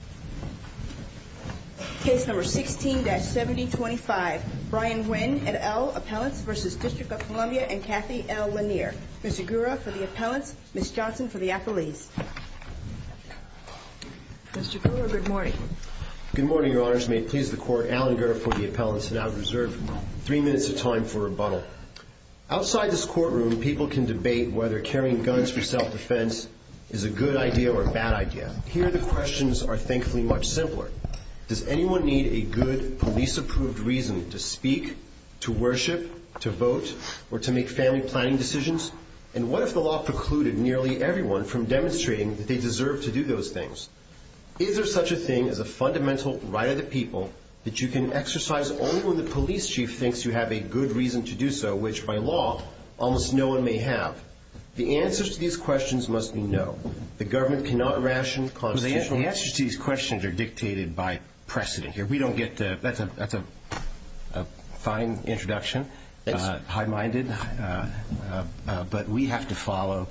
and Kathy L. Lanier. Mr. Gura, for the appellants. Ms. Johnson, for the appellees. Mr. Gura, good morning. Good morning, Your Honors. May it please the Court, Alan Gura for the appellants, and I will reserve three minutes of time for rebuttal. Outside this courtroom, people can debate whether carrying guns for self-defense is a good idea or a thankfully much simpler. Does anyone need a good, police-approved reason to speak, to worship, to vote, or to make family planning decisions? And what if the law precluded nearly everyone from demonstrating that they deserve to do those things? Is there such a thing as a fundamental right of the people that you can exercise only when the police chief thinks you have a good reason to do so, which, by law, almost no one may have? The answers to these questions must be no. The government cannot ration constitutional... The answers to these questions are dictated by precedent. That's a fine introduction, high-minded, but we have to follow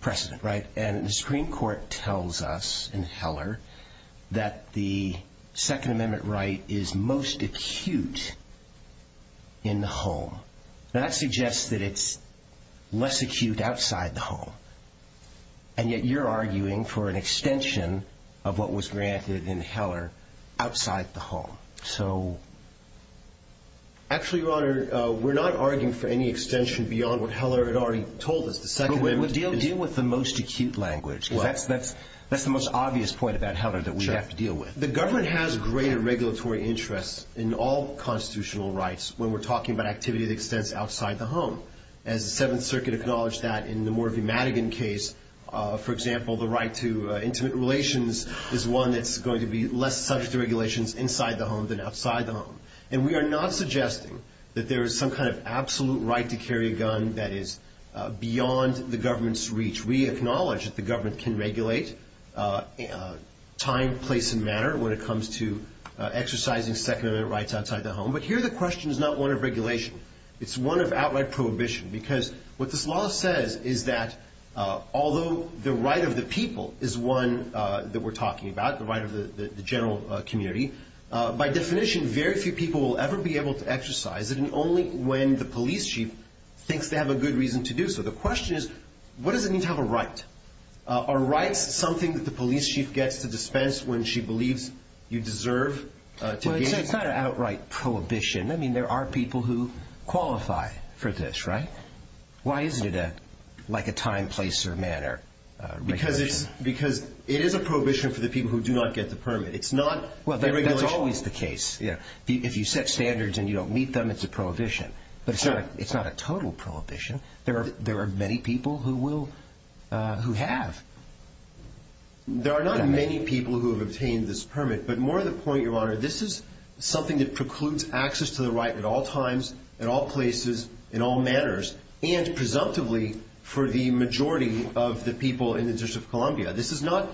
precedent, right? And the Supreme Court tells us in Heller that the Second Amendment right is most acute in the home. That suggests that it's less acute outside the home. And yet you're arguing for an extension of what was granted in Heller outside the home. So... Actually, Your Honor, we're not arguing for any extension beyond what Heller had already told us. The Second Amendment... Well, deal with the most acute language, because that's the most obvious point about Heller that we have to deal with. The government has greater regulatory interests in all constitutional rights when we're talking about activity that extends outside the home. As the Seventh Circuit acknowledged that in the Morvie-Madigan case, for example, the right to intimate relations is one that's going to be less subject to regulations inside the home than outside the home. And we are not suggesting that there is some kind of absolute right to carry a gun that is beyond the government's reach. We acknowledge that the government can regulate time, place, and manner when it comes to exercising Second Amendment rights outside the home. But here the question is not one of regulation. It's one of outright prohibition, because what this law says is that although the right of the people is one that we're talking about, the right of the general community, by definition, very few people will ever be able to exercise it, and only when the police chief thinks they have a good reason to do so. The question is, what does it mean to have a right? Are rights something that the police chief gets to dispense when she believes you deserve to be... Well, it's not an outright prohibition. I mean, there are people who qualify for this, right? Why isn't it like a time, place, or manner regulation? Because it is a prohibition for the people who do not get the permit. It's not a regulation... Well, that's always the case. If you set standards and you don't meet them, it's a prohibition. But it's not a total prohibition. There are many people who have. There are not many people who have obtained this permit, but more to the point, Your Honor, this is something that precludes access to the right at all times, at all places, in all manners, and presumptively for the majority of the people in the District of Columbia. This is not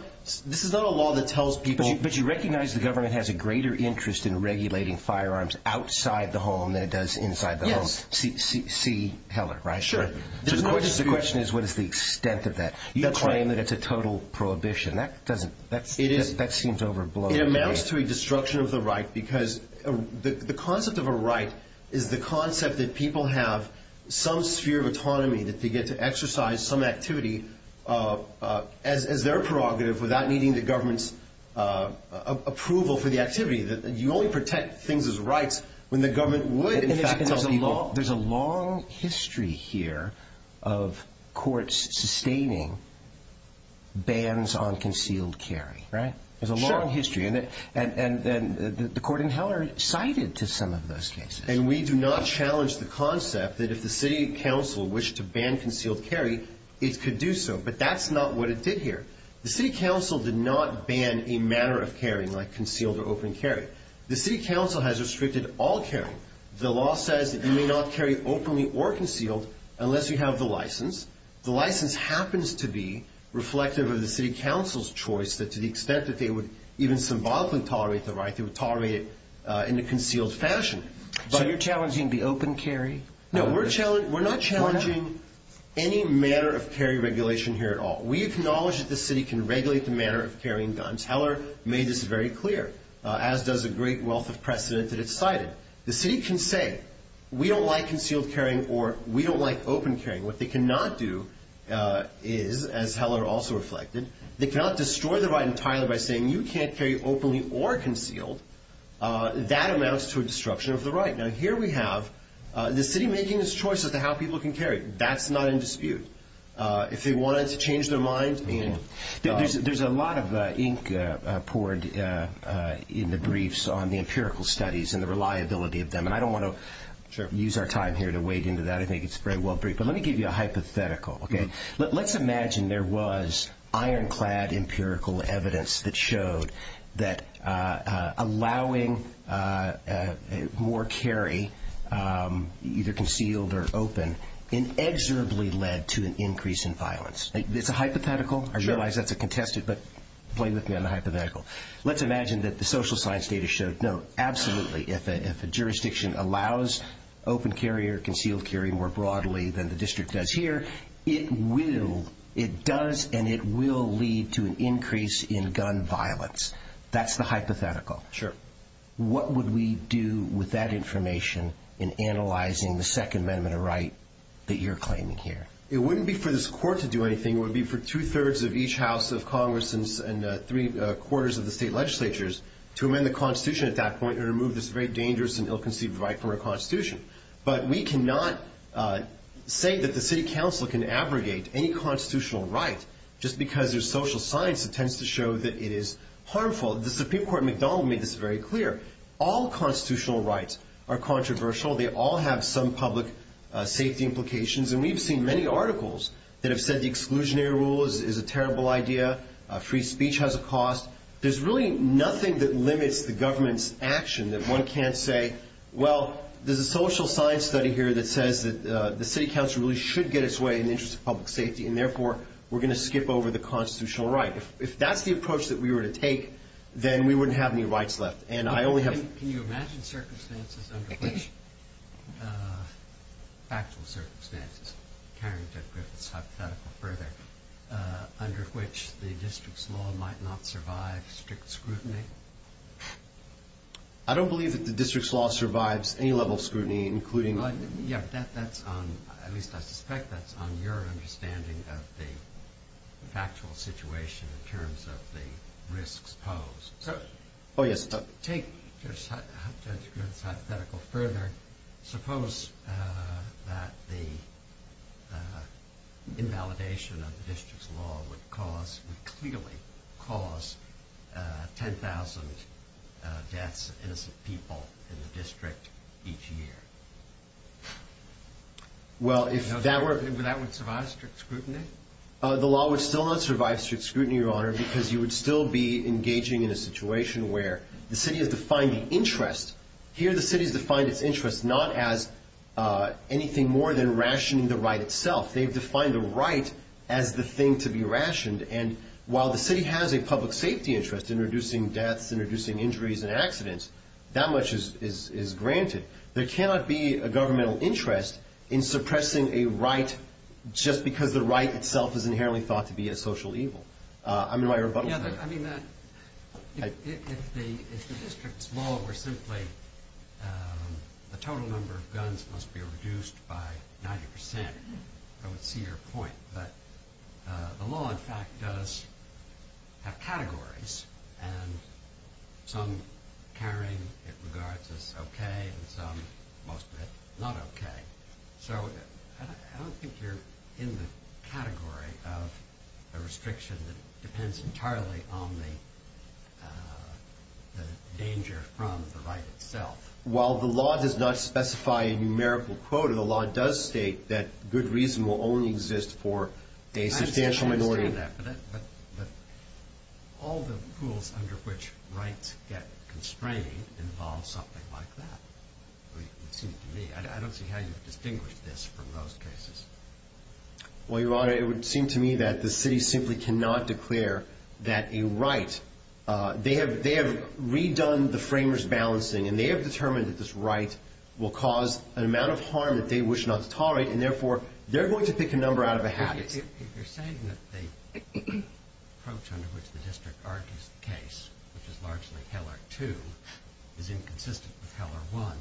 a law that tells people... But you recognize the government has a greater interest in regulating firearms outside the home than it does inside the home. Yes. C. Heller, right? Sure. The question is, what is the extent of that? You claim that it's a total prohibition. That seems overblown to me. It amounts to a destruction of the right because the concept of a right is the concept that people have some sphere of autonomy, that they get to exercise some activity as their prerogative without needing the government's approval for the activity. You only protect things as rights when the government would. There's a long history here of courts sustaining bans on concealed carry, right? Sure. There's a long history, and the court in Heller cited to some of those cases. And we do not challenge the concept that if the city council wished to ban concealed carry, it could do so, but that's not what it did here. The city council did not ban a matter of carrying like concealed or open carry. The city council has restricted all carry. The law says that you may not carry openly or concealed unless you have the license. The license happens to be reflective of the city council's choice that to the extent that they would even symbolically tolerate the right, they would tolerate it in a concealed fashion. So you're challenging the open carry? No, we're not challenging any matter of carry regulation here at all. We acknowledge that the city can regulate the matter of carrying guns. Heller made this very clear, as does a great wealth of precedent that it cited. The city can say, we don't like concealed carrying or we don't like open carrying. What they cannot do is, as Heller also reflected, they cannot destroy the right entirely by saying you can't carry openly or concealed. That amounts to a disruption of the right. Now, here we have the city making this choice as to how people can carry. That's not in dispute. If they wanted to change their mind and... There's a lot of ink poured in the briefs on the empirical studies and the reliability of them. I don't want to use our time here to wade into that. I think it's a very well briefed. Let me give you a hypothetical. Let's imagine there was ironclad empirical evidence that showed that allowing more carry, either concealed or open, inexorably led to an increase in violence. It's a hypothetical. I realize that's a contested, but play with me on the hypothetical. Let's imagine that the social science data showed, no, absolutely, if a jurisdiction allows open carry or concealed carry more broadly than the district does here, it will, it does and it will lead to an increase in gun violence. That's the hypothetical. Sure. What would we do with that information in analyzing the second amendment of right that you're claiming here? It wouldn't be for this court to do anything. It would be for two-thirds of each house of Congress and three-quarters of the state legislatures to amend the Constitution at that point and remove this very dangerous and ill-conceived right from our Constitution. But we cannot say that the city council can abrogate any constitutional right just because there's social science that tends to show that it is harmful. The Supreme Court at McDonald made this very clear. All constitutional rights are controversial. They all have some public safety implications. And we've seen many articles that have said the exclusionary rule is a terrible idea. Free speech has a cost. There's really nothing that limits the government's action that one can't say, well, there's a social science study here that says that the city council really should get its way in the interest of public safety and therefore we're going to skip over the constitutional right. If that's the approach that we were to take, then we wouldn't have any rights left. And I only have... ...factual circumstances, carrying Judge Griffith's hypothetical further, under which the district's law might not survive strict scrutiny? I don't believe that the district's law survives any level of scrutiny, including... Yeah, but that's on, at least I suspect that's on your understanding of the factual situation in terms of the risks posed. Oh, yes. Judge Griffith's hypothetical further, suppose that the invalidation of the district's law would cause, would clearly cause, 10,000 deaths of innocent people in the district each year. Well, if that were... Would that survive strict scrutiny? The law would still not survive strict scrutiny, Your Honor, because you would still be engaging in a situation where the city has defined the interest. Here the city has defined its interest not as anything more than rationing the right itself. They've defined the right as the thing to be rationed. And while the city has a public safety interest in reducing deaths, in reducing injuries and accidents, that much is granted. There cannot be a governmental interest in suppressing a right just because the right itself is inherently thought to be a social evil. I'm in my rebuttal. Yeah, I mean that, if the district's law were simply the total number of guns must be reduced by 90%, I would see your point. But the law, in fact, does have categories, and some carrying it regards as okay and some, most of it, not okay. So I don't think you're in the category of a restriction that depends entirely on the danger from the right itself. While the law does not specify a numerical quota, the law does state that good reason will only exist for a substantial minority. I understand that, but all the rules under which rights get constrained involve something like that, it seems to me. I don't see how you distinguish this from those cases. Well, Your Honor, it would seem to me that the city simply cannot declare that a right, they have redone the framers balancing, and they have determined that this right will cause an amount of harm that they wish not to tolerate, and therefore they're going to pick a number out of a habit. If you're saying that the approach under which the district argues the case, which is largely with Heller 1,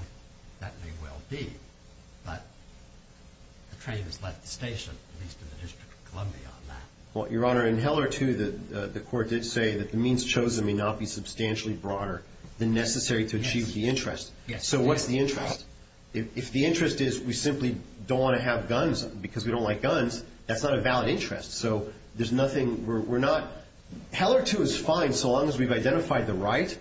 that may well be, but the train has left the station, at least in the District of Columbia on that. Well, Your Honor, in Heller 2, the court did say that the means chosen may not be substantially broader than necessary to achieve the interest. Yes. So what's the interest? If the interest is we simply don't want to have guns because we don't like guns, that's not a valid interest. So there's nothing, we're not, Heller 2 is identified the right,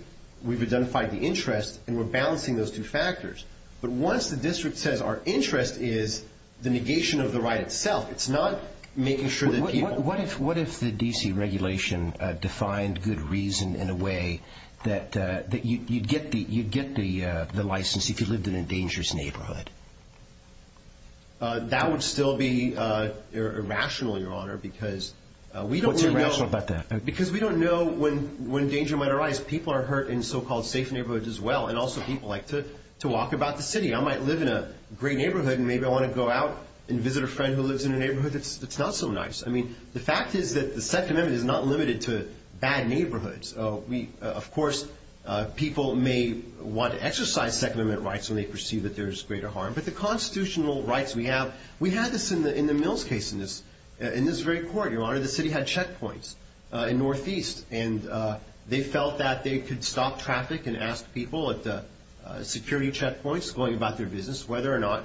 we've identified the interest, and we're balancing those two factors. But once the district says our interest is the negation of the right itself, it's not making sure that people... What if the D.C. regulation defined good reason in a way that you'd get the license if you lived in a dangerous neighborhood? That would still be irrational, Your Honor, because we don't know... What's irrational about that? People are hurt in so-called safe neighborhoods as well, and also people like to walk about the city. I might live in a great neighborhood and maybe I want to go out and visit a friend who lives in a neighborhood that's not so nice. I mean, the fact is that the Second Amendment is not limited to bad neighborhoods. Of course, people may want to exercise Second Amendment rights when they perceive that there's greater harm, but the constitutional rights we have, we had this in the Mills case, in this very court, Your Honor, the city had checkpoints in Northeast, and they felt that they could stop traffic and ask people at the security checkpoints going about their business whether or not,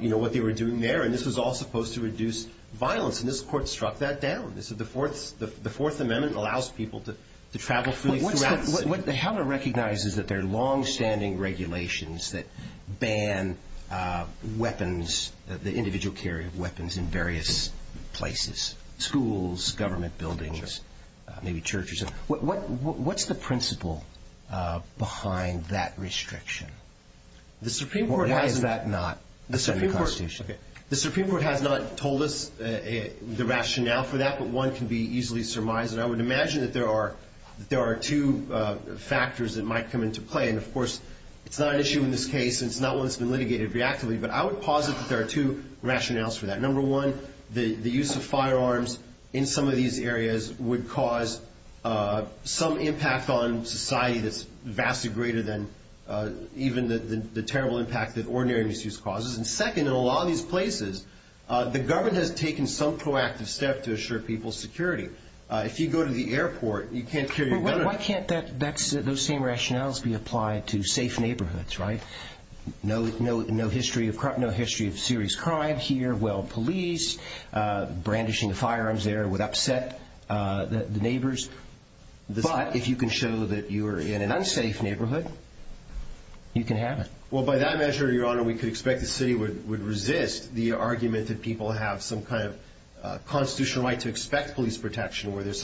you know, what they were doing there, and this was all supposed to reduce violence, and this court struck that down. The Fourth Amendment allows people to travel freely throughout... What the hell to recognize is that there are longstanding regulations that ban weapons, the individual carry of weapons in various places, schools, government buildings, maybe churches. What's the principle behind that restriction? The Supreme Court has not told us the rationale for that, but one can be easily surmised, and I would imagine that there are two factors that might come into play, and of course, it's not an issue in this case and it's not one that's been litigated reactively, but I would posit that there are two rationales for that. Number one, the use of firearms in some of these areas would cause some impact on society that's vastly greater than even the terrible impact that ordinary misuse causes, and second, in a lot of these places, the government has taken some proactive step to assure people's security. If you go to the airport, you can't carry a gun... But why can't those same rationales be applied to safe neighborhoods, right? No history of serious crime here, well, police brandishing firearms there would upset the neighbors, but if you can show that you are in an unsafe neighborhood, you can have it. Well, by that measure, Your Honor, we could expect the city would resist the argument that people have some kind of constitutional right to expect police protection or there's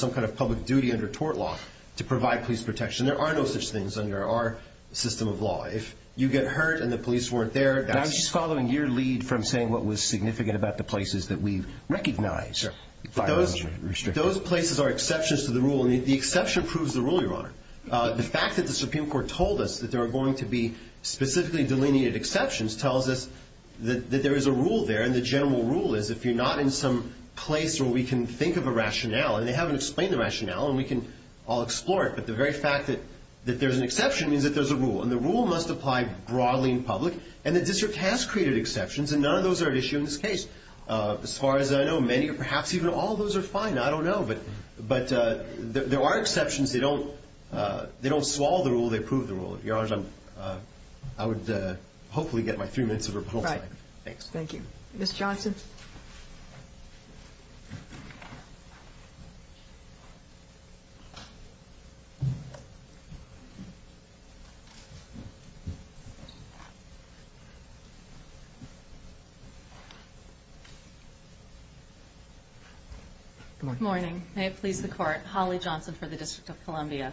some kind of public duty under tort law to provide police protection. There are no such things under our system of law. If you get hurt and the police weren't there... I'm just following your lead from saying what was significant about the places that we recognize. Those places are exceptions to the rule, and the exception proves the rule, Your Honor. The fact that the Supreme Court told us that there are going to be specifically delineated exceptions tells us that there is a rule there, and the general rule is, if you're not in some place where we can think of a rationale, and they haven't explained the rationale, and we can all explore it, and the rule must apply broadly in public, and the district has created exceptions, and none of those are at issue in this case. As far as I know, many or perhaps even all of those are fine. I don't know, but there are exceptions. They don't swallow the rule. They prove the rule. Your Honor, I would hopefully get my three minutes of rebuttal time. Thanks. Thank you. Ms. Johnson? Good morning. May it please the Court. Holly Johnson for the District of Columbia.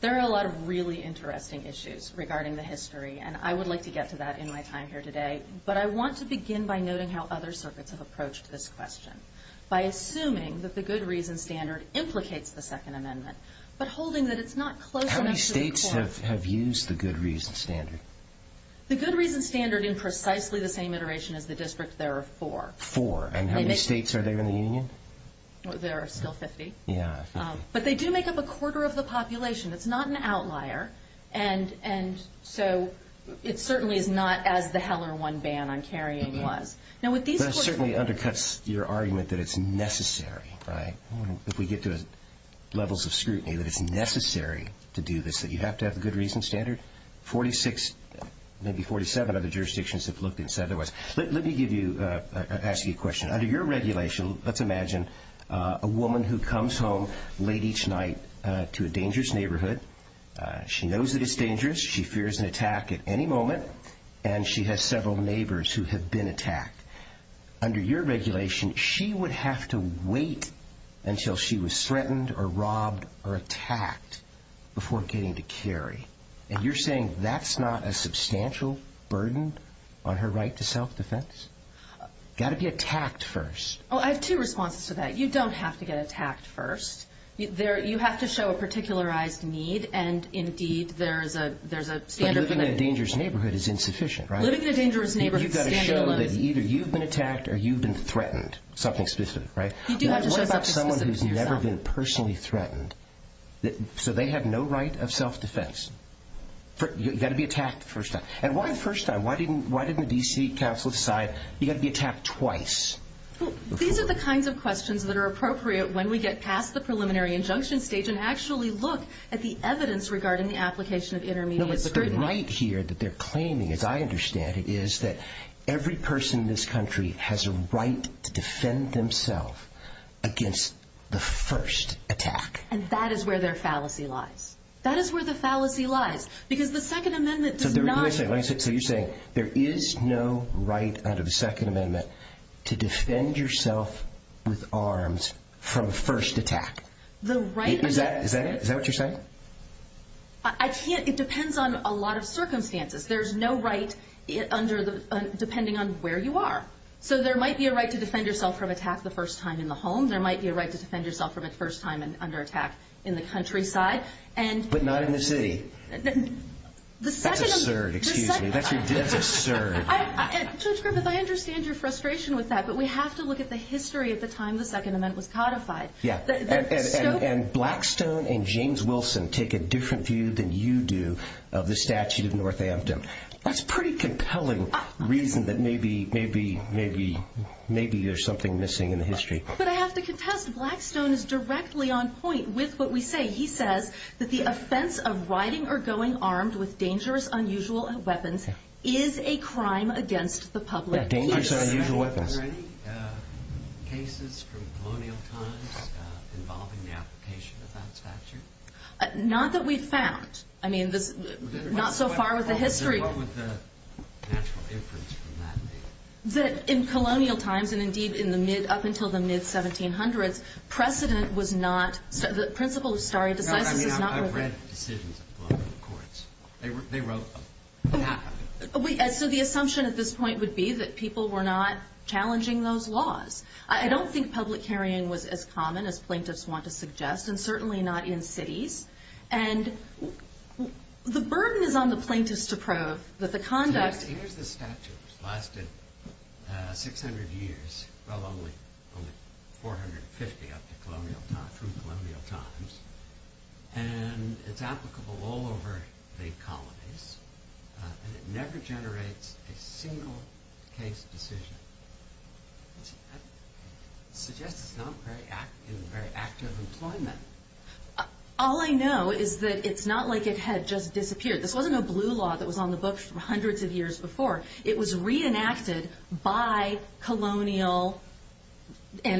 There are a lot of really interesting issues regarding the history, and I would like to get to that in my time here today, but I want to begin by noting how other circuits have approached this question by assuming that the good reason standard implicates the Second Amendment but holding that it's not close enough to the court. Other circuits have used the good reason standard. The good reason standard in precisely the same iteration as the district, there are four. Four. And how many states are there in the union? There are still 50. Yeah, 50. But they do make up a quarter of the population. It's not an outlier, and so it certainly is not as the Heller 1 ban on carrying was. That certainly undercuts your argument that it's necessary, right? If we get to levels of scrutiny, that it's necessary to do this, that you have to have the good reason standard. Forty-six, maybe 47 other jurisdictions have looked and said otherwise. Let me ask you a question. Under your regulation, let's imagine a woman who comes home late each night to a dangerous neighborhood. She knows that it's dangerous. She fears an attack at any moment, and she has several neighbors who have been attacked. Under your regulation, she would have to wait until she was threatened or robbed or attacked before getting to carry. And you're saying that's not a substantial burden on her right to self-defense? Got to be attacked first. Oh, I have two responses to that. You don't have to get attacked first. You have to show a particularized need, and, indeed, there's a standard permit. But living in a dangerous neighborhood is insufficient, right? You've got to show that either you've been attacked or you've been threatened, something specific, right? You do have to show something specific to yourself. What about someone who's never been personally threatened, so they have no right of self-defense? You've got to be attacked the first time. And why the first time? Why didn't the D.C. Council decide you've got to be attacked twice? These are the kinds of questions that are appropriate when we get past the preliminary injunction stage and actually look at the evidence regarding the application of intermediate scrutiny. But the right here that they're claiming, as I understand it, is that every person in this country has a right to defend themselves against the first attack. And that is where their fallacy lies. That is where the fallacy lies, because the Second Amendment does not— Let me say it. So you're saying there is no right under the Second Amendment to defend yourself with arms from a first attack. The right— Is that what you're saying? I can't—it depends on a lot of circumstances. There's no right under the—depending on where you are. So there might be a right to defend yourself from attack the first time in the home. There might be a right to defend yourself from a first time under attack in the countryside. But not in the city. That's a cert, excuse me. That's a cert. Judge Griffith, I understand your frustration with that, but we have to look at the history of the time the Second Amendment was codified. And Blackstone and James Wilson take a different view than you do of the statute of Northampton. That's a pretty compelling reason that maybe there's something missing in the history. But I have to contest, Blackstone is directly on point with what we say. He says that the offense of riding or going armed with dangerous, unusual weapons is a crime against the public peace. Dangerous, unusual weapons. Were there any cases from colonial times involving the application of that statute? Not that we've found. I mean, not so far with the history. What would the natural inference from that be? That in colonial times, and indeed up until the mid-1700s, precedent was not— the principle of stare decisis is not— I mean, I've read decisions of colonial courts. They wrote them. So the assumption at this point would be that people were not challenging those laws. I don't think public hearing was as common as plaintiffs want to suggest, and certainly not in cities. And the burden is on the plaintiffs to prove that the conduct— Here's the statute. It's lasted 600 years, well, only 450 up to colonial times, from colonial times. And it's applicable all over the colonies. And it never generates a single case decision. That suggests it's not in very active employment. All I know is that it's not like it had just disappeared. This wasn't a blue law that was on the books for hundreds of years before. It was reenacted by colonial—in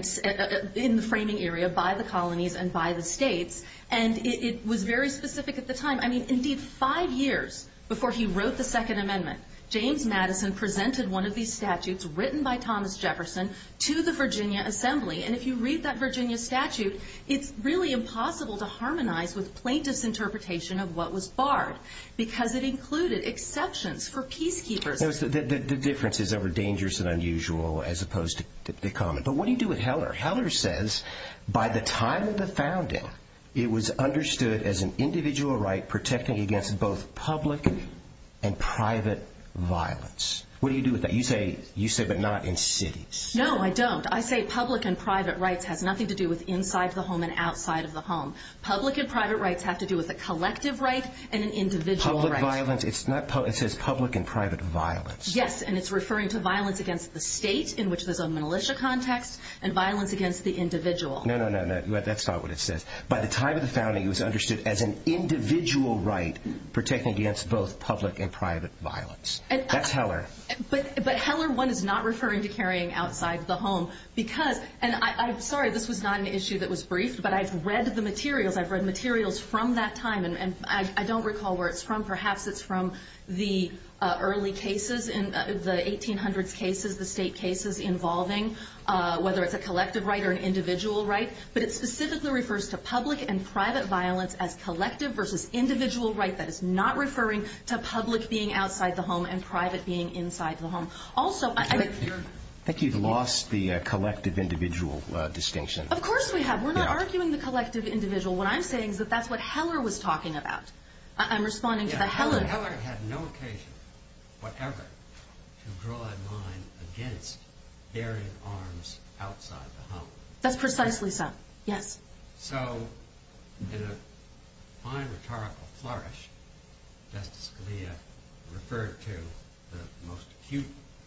the framing area, by the colonies and by the states. And it was very specific at the time. I mean, indeed, five years before he wrote the Second Amendment, James Madison presented one of these statutes written by Thomas Jefferson to the Virginia Assembly. And if you read that Virginia statute, it's really impossible to harmonize with plaintiffs' interpretation of what was barred, because it included exceptions for peacekeepers. The difference is over dangerous and unusual as opposed to common. But what do you do with Heller? Heller says, by the time of the founding, it was understood as an individual right protecting against both public and private violence. What do you do with that? You say, but not in cities. No, I don't. I say public and private rights has nothing to do with inside the home and outside of the home. Public and private rights have to do with a collective right and an individual right. It's not violence. It says public and private violence. Yes, and it's referring to violence against the state, in which there's a militia context, and violence against the individual. No, no, no, that's not what it says. By the time of the founding, it was understood as an individual right protecting against both public and private violence. That's Heller. But Heller 1 is not referring to carrying outside the home. And I'm sorry, this was not an issue that was briefed, but I've read the materials. I've read materials from that time. And I don't recall where it's from. Perhaps it's from the early cases, the 1800s cases, the state cases involving whether it's a collective right or an individual right. But it specifically refers to public and private violence as collective versus individual right. That is not referring to public being outside the home and private being inside the home. Also, I think you've lost the collective-individual distinction. Of course we have. We're not arguing the collective-individual. What I'm saying is that that's what Heller was talking about. I'm responding to the Heller. Yeah, Heller had no occasion, whatever, to draw a line against bearing arms outside the home. That's precisely so, yes. So in a fine rhetorical flourish, Justice Scalia referred to the most acute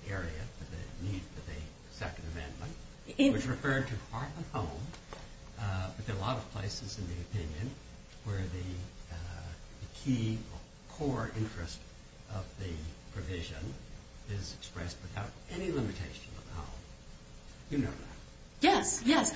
area for the need for the Second Amendment. It was referred to part of the home, but there are a lot of places in the opinion where the key core interest of the provision is expressed without any limitation of the home. You know that. Yes, yes.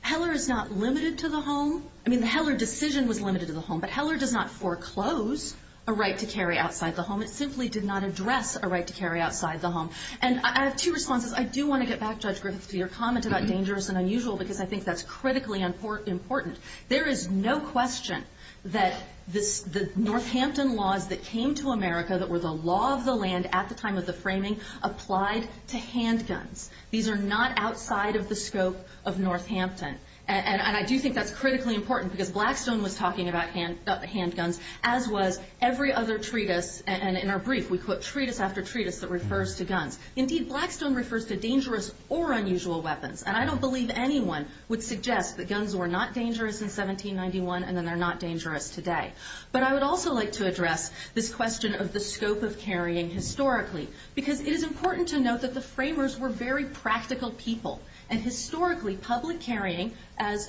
Heller is not limited to the home. I mean, the Heller decision was limited to the home. But Heller does not foreclose a right to carry outside the home. It simply did not address a right to carry outside the home. And I have two responses. I do want to get back, Judge Griffith, to your comment about dangerous and unusual because I think that's critically important. There is no question that the Northampton laws that came to America that were the law of the land at the time of the framing applied to handguns. These are not outside of the scope of Northampton. And I do think that's critically important because Blackstone was talking about handguns, as was every other treatise. And in our brief, we put treatise after treatise that refers to guns. Indeed, Blackstone refers to dangerous or unusual weapons. And I don't believe anyone would suggest that guns were not dangerous in 1791 and that they're not dangerous today. But I would also like to address this question of the scope of carrying historically because it is important to note that the framers were very practical people. And historically, public carrying, as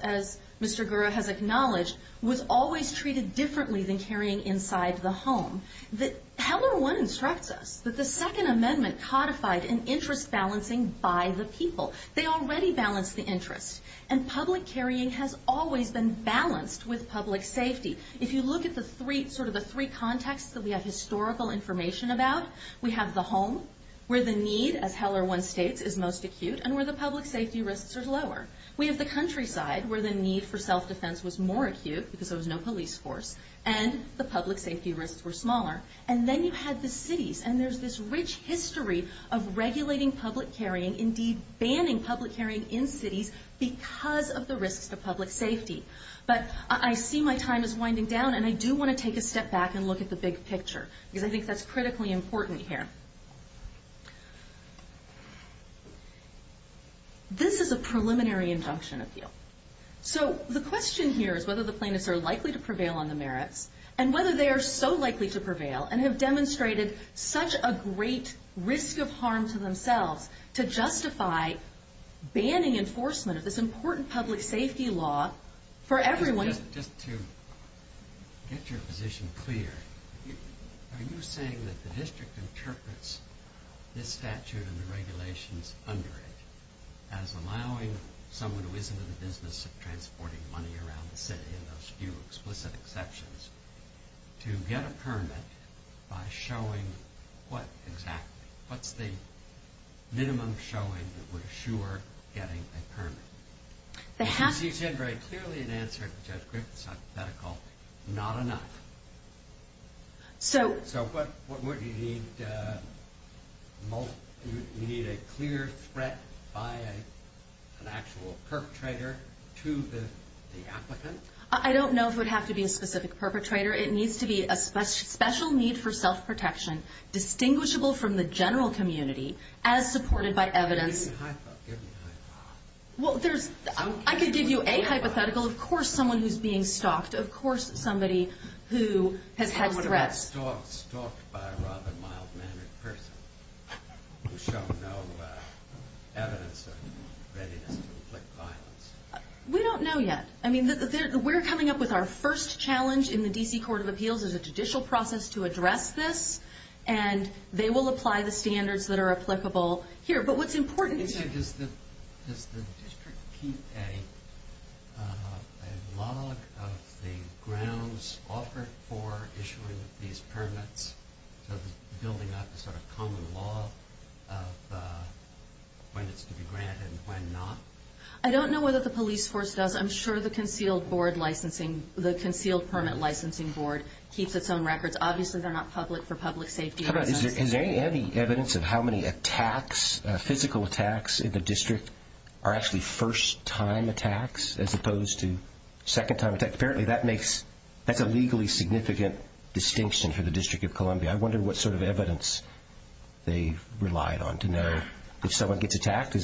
Mr. Gura has acknowledged, was always treated differently than carrying inside the home. Heller 1 instructs us that the Second Amendment codified an interest balancing by the people. They already balanced the interest. And public carrying has always been balanced with public safety. If you look at sort of the three contexts that we have historical information about, we have the home where the need, as Heller 1 states, is most acute and where the public safety risks are lower. We have the countryside where the need for self-defense was more acute because there was no police force, and the public safety risks were smaller. And then you had the cities, and there's this rich history of regulating public carrying, indeed banning public carrying in cities because of the risks to public safety. But I see my time is winding down, and I do want to take a step back and look at the big picture because I think that's critically important here. This is a preliminary injunction appeal. So the question here is whether the plaintiffs are likely to prevail on the merits and whether they are so likely to prevail and have demonstrated such a great risk of harm to themselves to justify banning enforcement of this important public safety law for everyone. Just to get your position clear, are you saying that the district interprets this statute and the regulations under it as allowing someone who isn't in the business of transporting money around the city, in those few explicit exceptions, to get a permit by showing what exactly? What's the minimum showing that would assure getting a permit? You seem to have very clearly answered Judge Griffith's hypothetical, not enough. So what would you need? You need a clear threat by an actual perpetrator to the applicant? I don't know if it would have to be a specific perpetrator. It needs to be a special need for self-protection distinguishable from the general community as supported by evidence. Give me a hypothetical. I could give you a hypothetical. Of course, someone who's being stalked. Of course, somebody who has had threats. How about stalked by a rather mild-mannered person who showed no evidence or readiness to inflict violence? We don't know yet. We're coming up with our first challenge in the D.C. Court of Appeals as a judicial process to address this, and they will apply the standards that are applicable here. Does the district keep a log of the grounds offered for issuing these permits, building up a sort of common law of when it's to be granted and when not? I don't know whether the police force does. I'm sure the Concealed Permit Licensing Board keeps its own records. Obviously, they're not public for public safety reasons. How about is there any evidence of how many attacks, physical attacks in the district, are actually first-time attacks as opposed to second-time attacks? Apparently, that's a legally significant distinction for the District of Columbia. I wonder what sort of evidence they relied on to know if someone gets attacked.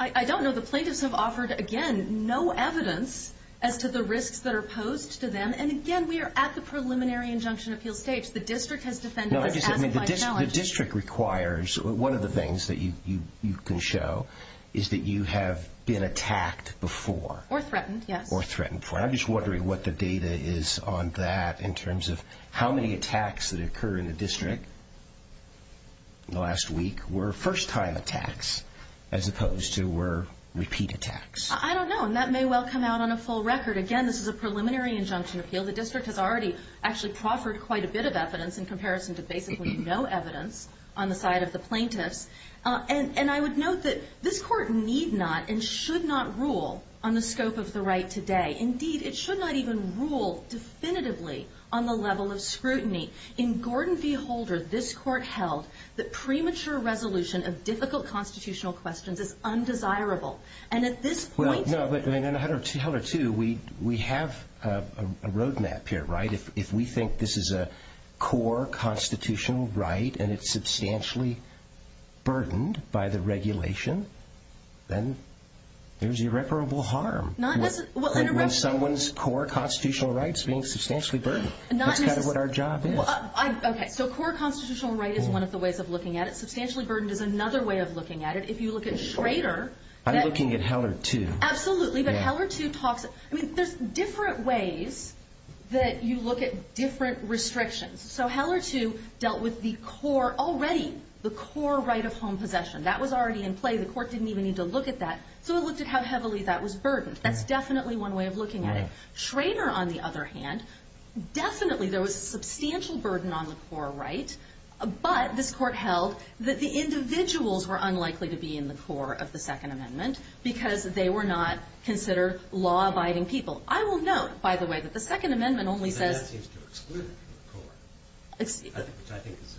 I don't know. The plaintiffs have offered, again, no evidence as to the risks that are posed to them. And again, we are at the preliminary injunction appeal stage. No, I'm just saying the district requires one of the things that you can show is that you have been attacked before. Or threatened, yes. Or threatened before. I'm just wondering what the data is on that in terms of how many attacks that occur in the district in the last week were first-time attacks as opposed to were repeat attacks. I don't know, and that may well come out on a full record. Again, this is a preliminary injunction appeal. The district has already actually proffered quite a bit of evidence in comparison to basically no evidence on the side of the plaintiffs. And I would note that this court need not and should not rule on the scope of the right today. Indeed, it should not even rule definitively on the level of scrutiny. In Gordon v. Holder, this court held that premature resolution of difficult constitutional questions is undesirable. And at this point- No, but in Holder 2, we have a roadmap here, right? If we think this is a core constitutional right and it's substantially burdened by the regulation, then there's irreparable harm in someone's core constitutional rights being substantially burdened. That's kind of what our job is. Okay, so core constitutional right is one of the ways of looking at it. Substantially burdened is another way of looking at it. If you look at Schrader- I'm looking at Heller 2. Absolutely, but Heller 2 talks- I mean, there's different ways that you look at different restrictions. So Heller 2 dealt with the core- already the core right of home possession. That was already in play. The court didn't even need to look at that. So it looked at how heavily that was burdened. That's definitely one way of looking at it. Schrader, on the other hand, definitely there was a substantial burden on the core right, but this court held that the individuals were unlikely to be in the core of the Second Amendment because they were not considered law-abiding people. I will note, by the way, that the Second Amendment only says- But that seems to exclude it from the core, which I think is, to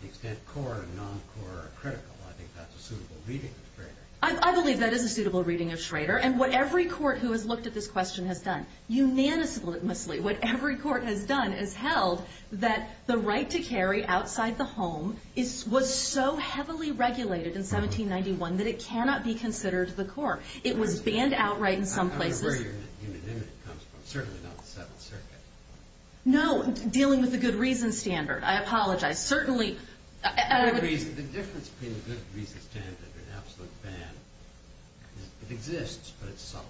the extent core and non-core are critical, I think that's a suitable reading of Schrader. I believe that is a suitable reading of Schrader, and what every court who has looked at this question has done unanimously, what every court has done is held that the right to carry outside the home was so heavily regulated in 1791 that it cannot be considered the core. It was banned outright in some places. I don't know where your unanimity comes from. Certainly not the Seventh Circuit. No, dealing with the good reason standard. I apologize. Certainly- The difference between the good reason standard and absolute ban is it exists, but it's subtle.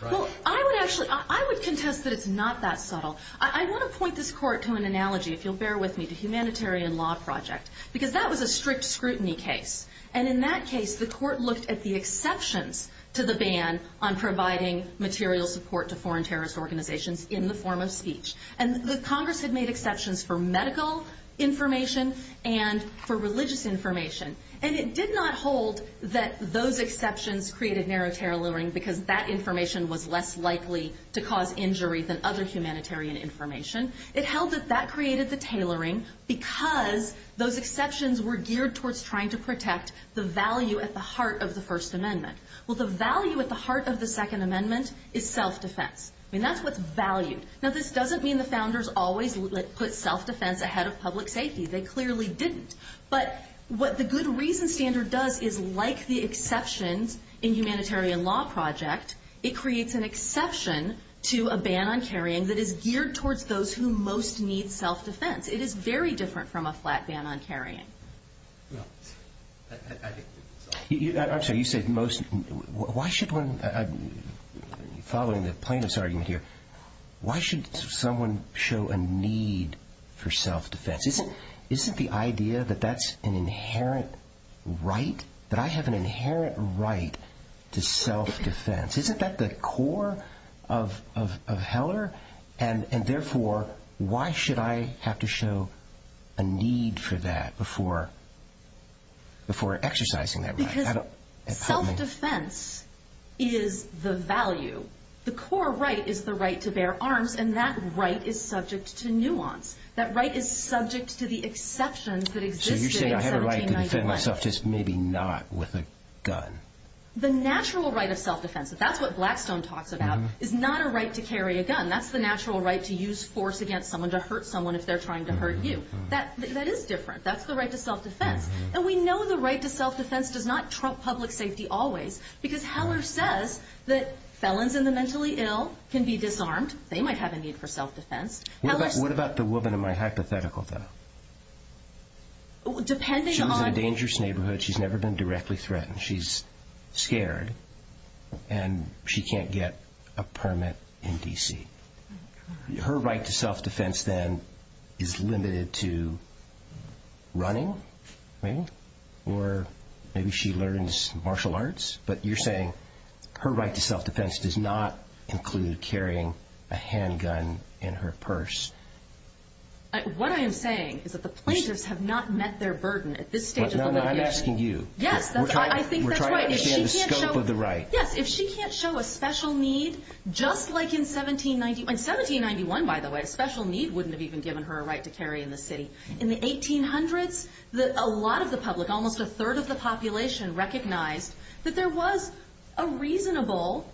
Well, I would actually- I would contest that it's not that subtle. I want to point this court to an analogy, if you'll bear with me, to Humanitarian Law Project, because that was a strict scrutiny case, and in that case the court looked at the exceptions to the ban on providing material support to foreign terrorist organizations in the form of speech. And the Congress had made exceptions for medical information and for religious information, and it did not hold that those exceptions created narrow tailoring because that information was less likely to cause injury than other humanitarian information. It held that that created the tailoring because those exceptions were geared towards trying to protect the value at the heart of the First Amendment. Well, the value at the heart of the Second Amendment is self-defense. I mean, that's what's valued. Now, this doesn't mean the founders always put self-defense ahead of public safety. They clearly didn't. But what the good reason standard does is, like the exceptions in Humanitarian Law Project, it creates an exception to a ban on carrying that is geared towards those who most need self-defense. It is very different from a flat ban on carrying. I'm sorry, you said most- why should one- following the plaintiff's argument here, why should someone show a need for self-defense? Isn't the idea that that's an inherent right, that I have an inherent right to self-defense? Isn't that the core of Heller? And therefore, why should I have to show a need for that before exercising that right? Because self-defense is the value. The core right is the right to bear arms, and that right is subject to nuance. That right is subject to the exceptions that existed in 1791. So you're saying I have a right to defend myself, just maybe not with a gun. The natural right of self-defense, that's what Blackstone talks about, is not a right to carry a gun. That's the natural right to use force against someone to hurt someone if they're trying to hurt you. That is different. That's the right to self-defense. And we know the right to self-defense does not trump public safety always, because Heller says that felons in the mentally ill can be disarmed. They might have a need for self-defense. What about the woman in my hypothetical, though? She lives in a dangerous neighborhood. She's never been directly threatened. She's scared, and she can't get a permit in D.C. Her right to self-defense, then, is limited to running, maybe, or maybe she learns martial arts. But you're saying her right to self-defense does not include carrying a handgun in her purse. What I am saying is that the plaintiffs have not met their burden at this stage of litigation. No, no, I'm asking you. Yes, I think that's right. We're trying to understand the scope of the right. Yes, if she can't show a special need, just like in 1791. In 1791, by the way, a special need wouldn't have even given her a right to carry in the city. In the 1800s, a lot of the public, almost a third of the population, recognized that there was a reasonable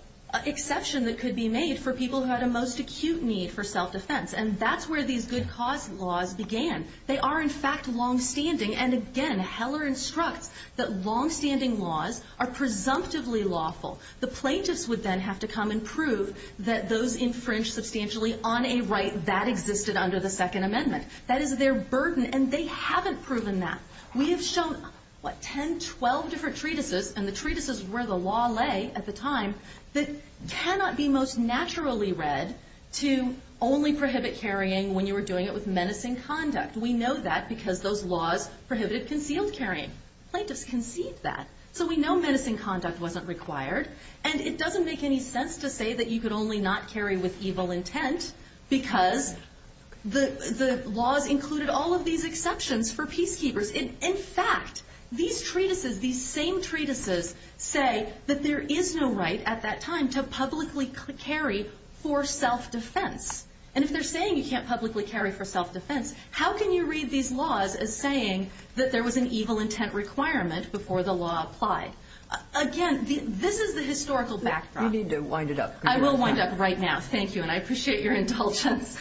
exception that could be made for people who had a most acute need for self-defense. And that's where these good cause laws began. They are, in fact, longstanding. And, again, Heller instructs that longstanding laws are presumptively lawful. The plaintiffs would then have to come and prove that those infringed substantially on a right that existed under the Second Amendment. That is their burden, and they haven't proven that. We have shown, what, 10, 12 different treatises, and the treatises where the law lay at the time, that cannot be most naturally read to only prohibit carrying when you were doing it with menacing conduct. We know that because those laws prohibited concealed carrying. Plaintiffs conceived that. So we know menacing conduct wasn't required, and it doesn't make any sense to say that you could only not carry with evil intent because the laws included all of these exceptions for peacekeepers. In fact, these treatises, these same treatises, say that there is no right at that time to publicly carry for self-defense. And if they're saying you can't publicly carry for self-defense, how can you read these laws as saying that there was an evil intent requirement before the law applied? Again, this is the historical backdrop. You need to wind it up. I will wind up right now. Thank you, and I appreciate your indulgence.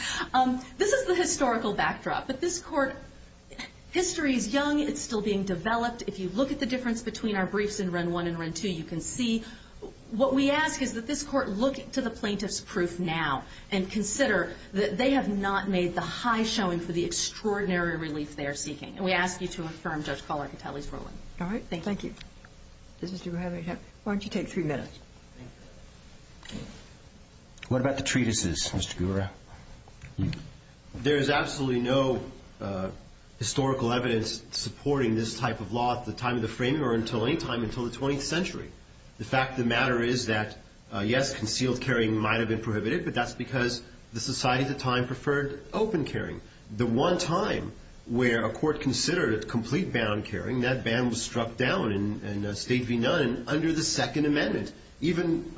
This is the historical backdrop. But this Court, history is young. It's still being developed. If you look at the difference between our briefs in Run 1 and Run 2, you can see. What we ask is that this Court look to the plaintiff's proof now and consider that they have not made the high showing for the extraordinary relief they are seeking. And we ask you to affirm Judge Kahler-Catelli's ruling. All right. Thank you. Does Mr. Gura have any time? Why don't you take three minutes? What about the treatises, Mr. Gura? There is absolutely no historical evidence supporting this type of law at the time of the framing or until any time until the 20th century. The fact of the matter is that, yes, concealed carrying might have been prohibited, but that's because the society at the time preferred open carrying. The one time where a court considered complete bound carrying, that ban was struck down in State v. Nunn under the Second Amendment. Even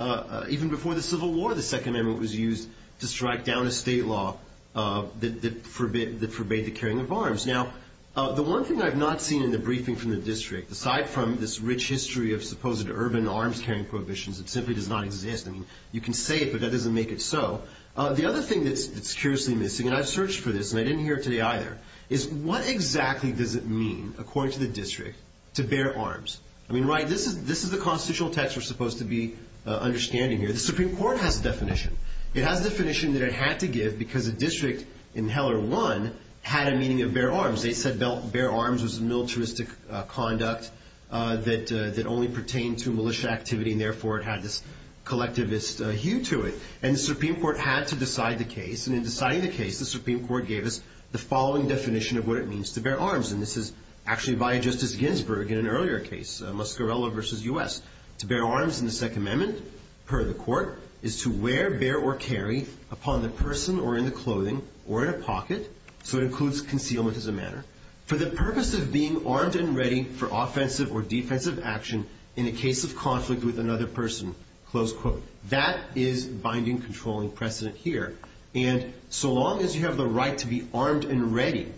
before the Civil War, the Second Amendment was used to strike down a state law that forbade the carrying of arms. Now, the one thing I've not seen in the briefing from the District, aside from this rich history of supposed urban arms-carrying prohibitions that simply does not exist, I mean, you can say it, but that doesn't make it so. The other thing that's curiously missing, and I've searched for this and I didn't hear it today either, is what exactly does it mean, according to the District, to bear arms? I mean, right, this is the constitutional text we're supposed to be understanding here. The Supreme Court has a definition. It has a definition that it had to give because the District in Heller 1 had a meaning of bear arms. They said bear arms was militaristic conduct that only pertained to militia activity and, therefore, it had this collectivist hue to it. And the Supreme Court had to decide the case, and in deciding the case, the Supreme Court gave us the following definition of what it means to bear arms, and this is actually by Justice Ginsburg in an earlier case, Muscarello v. U.S. To bear arms in the Second Amendment, per the Court, is to wear, bear, or carry upon the person or in the clothing or in a pocket, so it includes concealment as a matter, for the purpose of being armed and ready for offensive or defensive action in a case of conflict with another person. Close quote. That is binding, controlling precedent here. And so long as you have the right to be armed and ready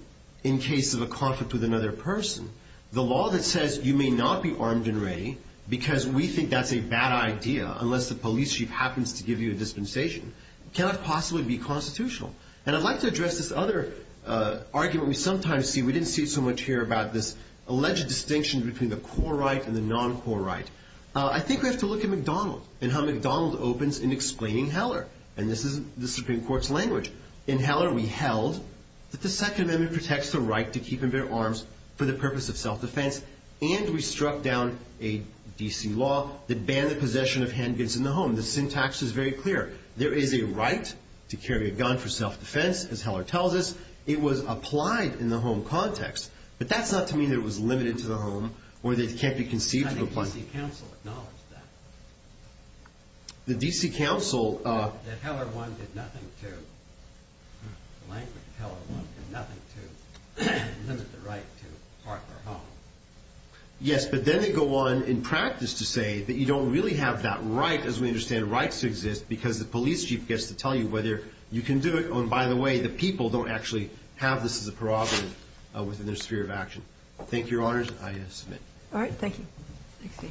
in case of a conflict with another person, the law that says you may not be armed and ready because we think that's a bad idea unless the police chief happens to give you a dispensation cannot possibly be constitutional. And I'd like to address this other argument we sometimes see. We didn't see it so much here about this alleged distinction between the core right and the non-core right. I think we have to look at McDonald and how McDonald opens in explaining Heller, and this is the Supreme Court's language. In Heller we held that the Second Amendment protects the right to keep and bear arms for the purpose of self-defense, and we struck down a D.C. law that banned the possession of handguns in the home. The syntax is very clear. There is a right to carry a gun for self-defense, as Heller tells us. It was applied in the home context, but that's not to mean that it was limited to the home or that it can't be conceived of a place. I think the D.C. Council acknowledged that. The D.C. Council? That Heller 1 did nothing to, the language of Heller 1 did nothing to limit the right to part their home. Yes, but then they go on in practice to say that you don't really have that right, as we understand rights to exist, because the police chief gets to tell you whether you can do it. By the way, the people don't actually have this as a prerogative within their sphere of action. Thank you, Your Honors. I submit. All right. Thank you.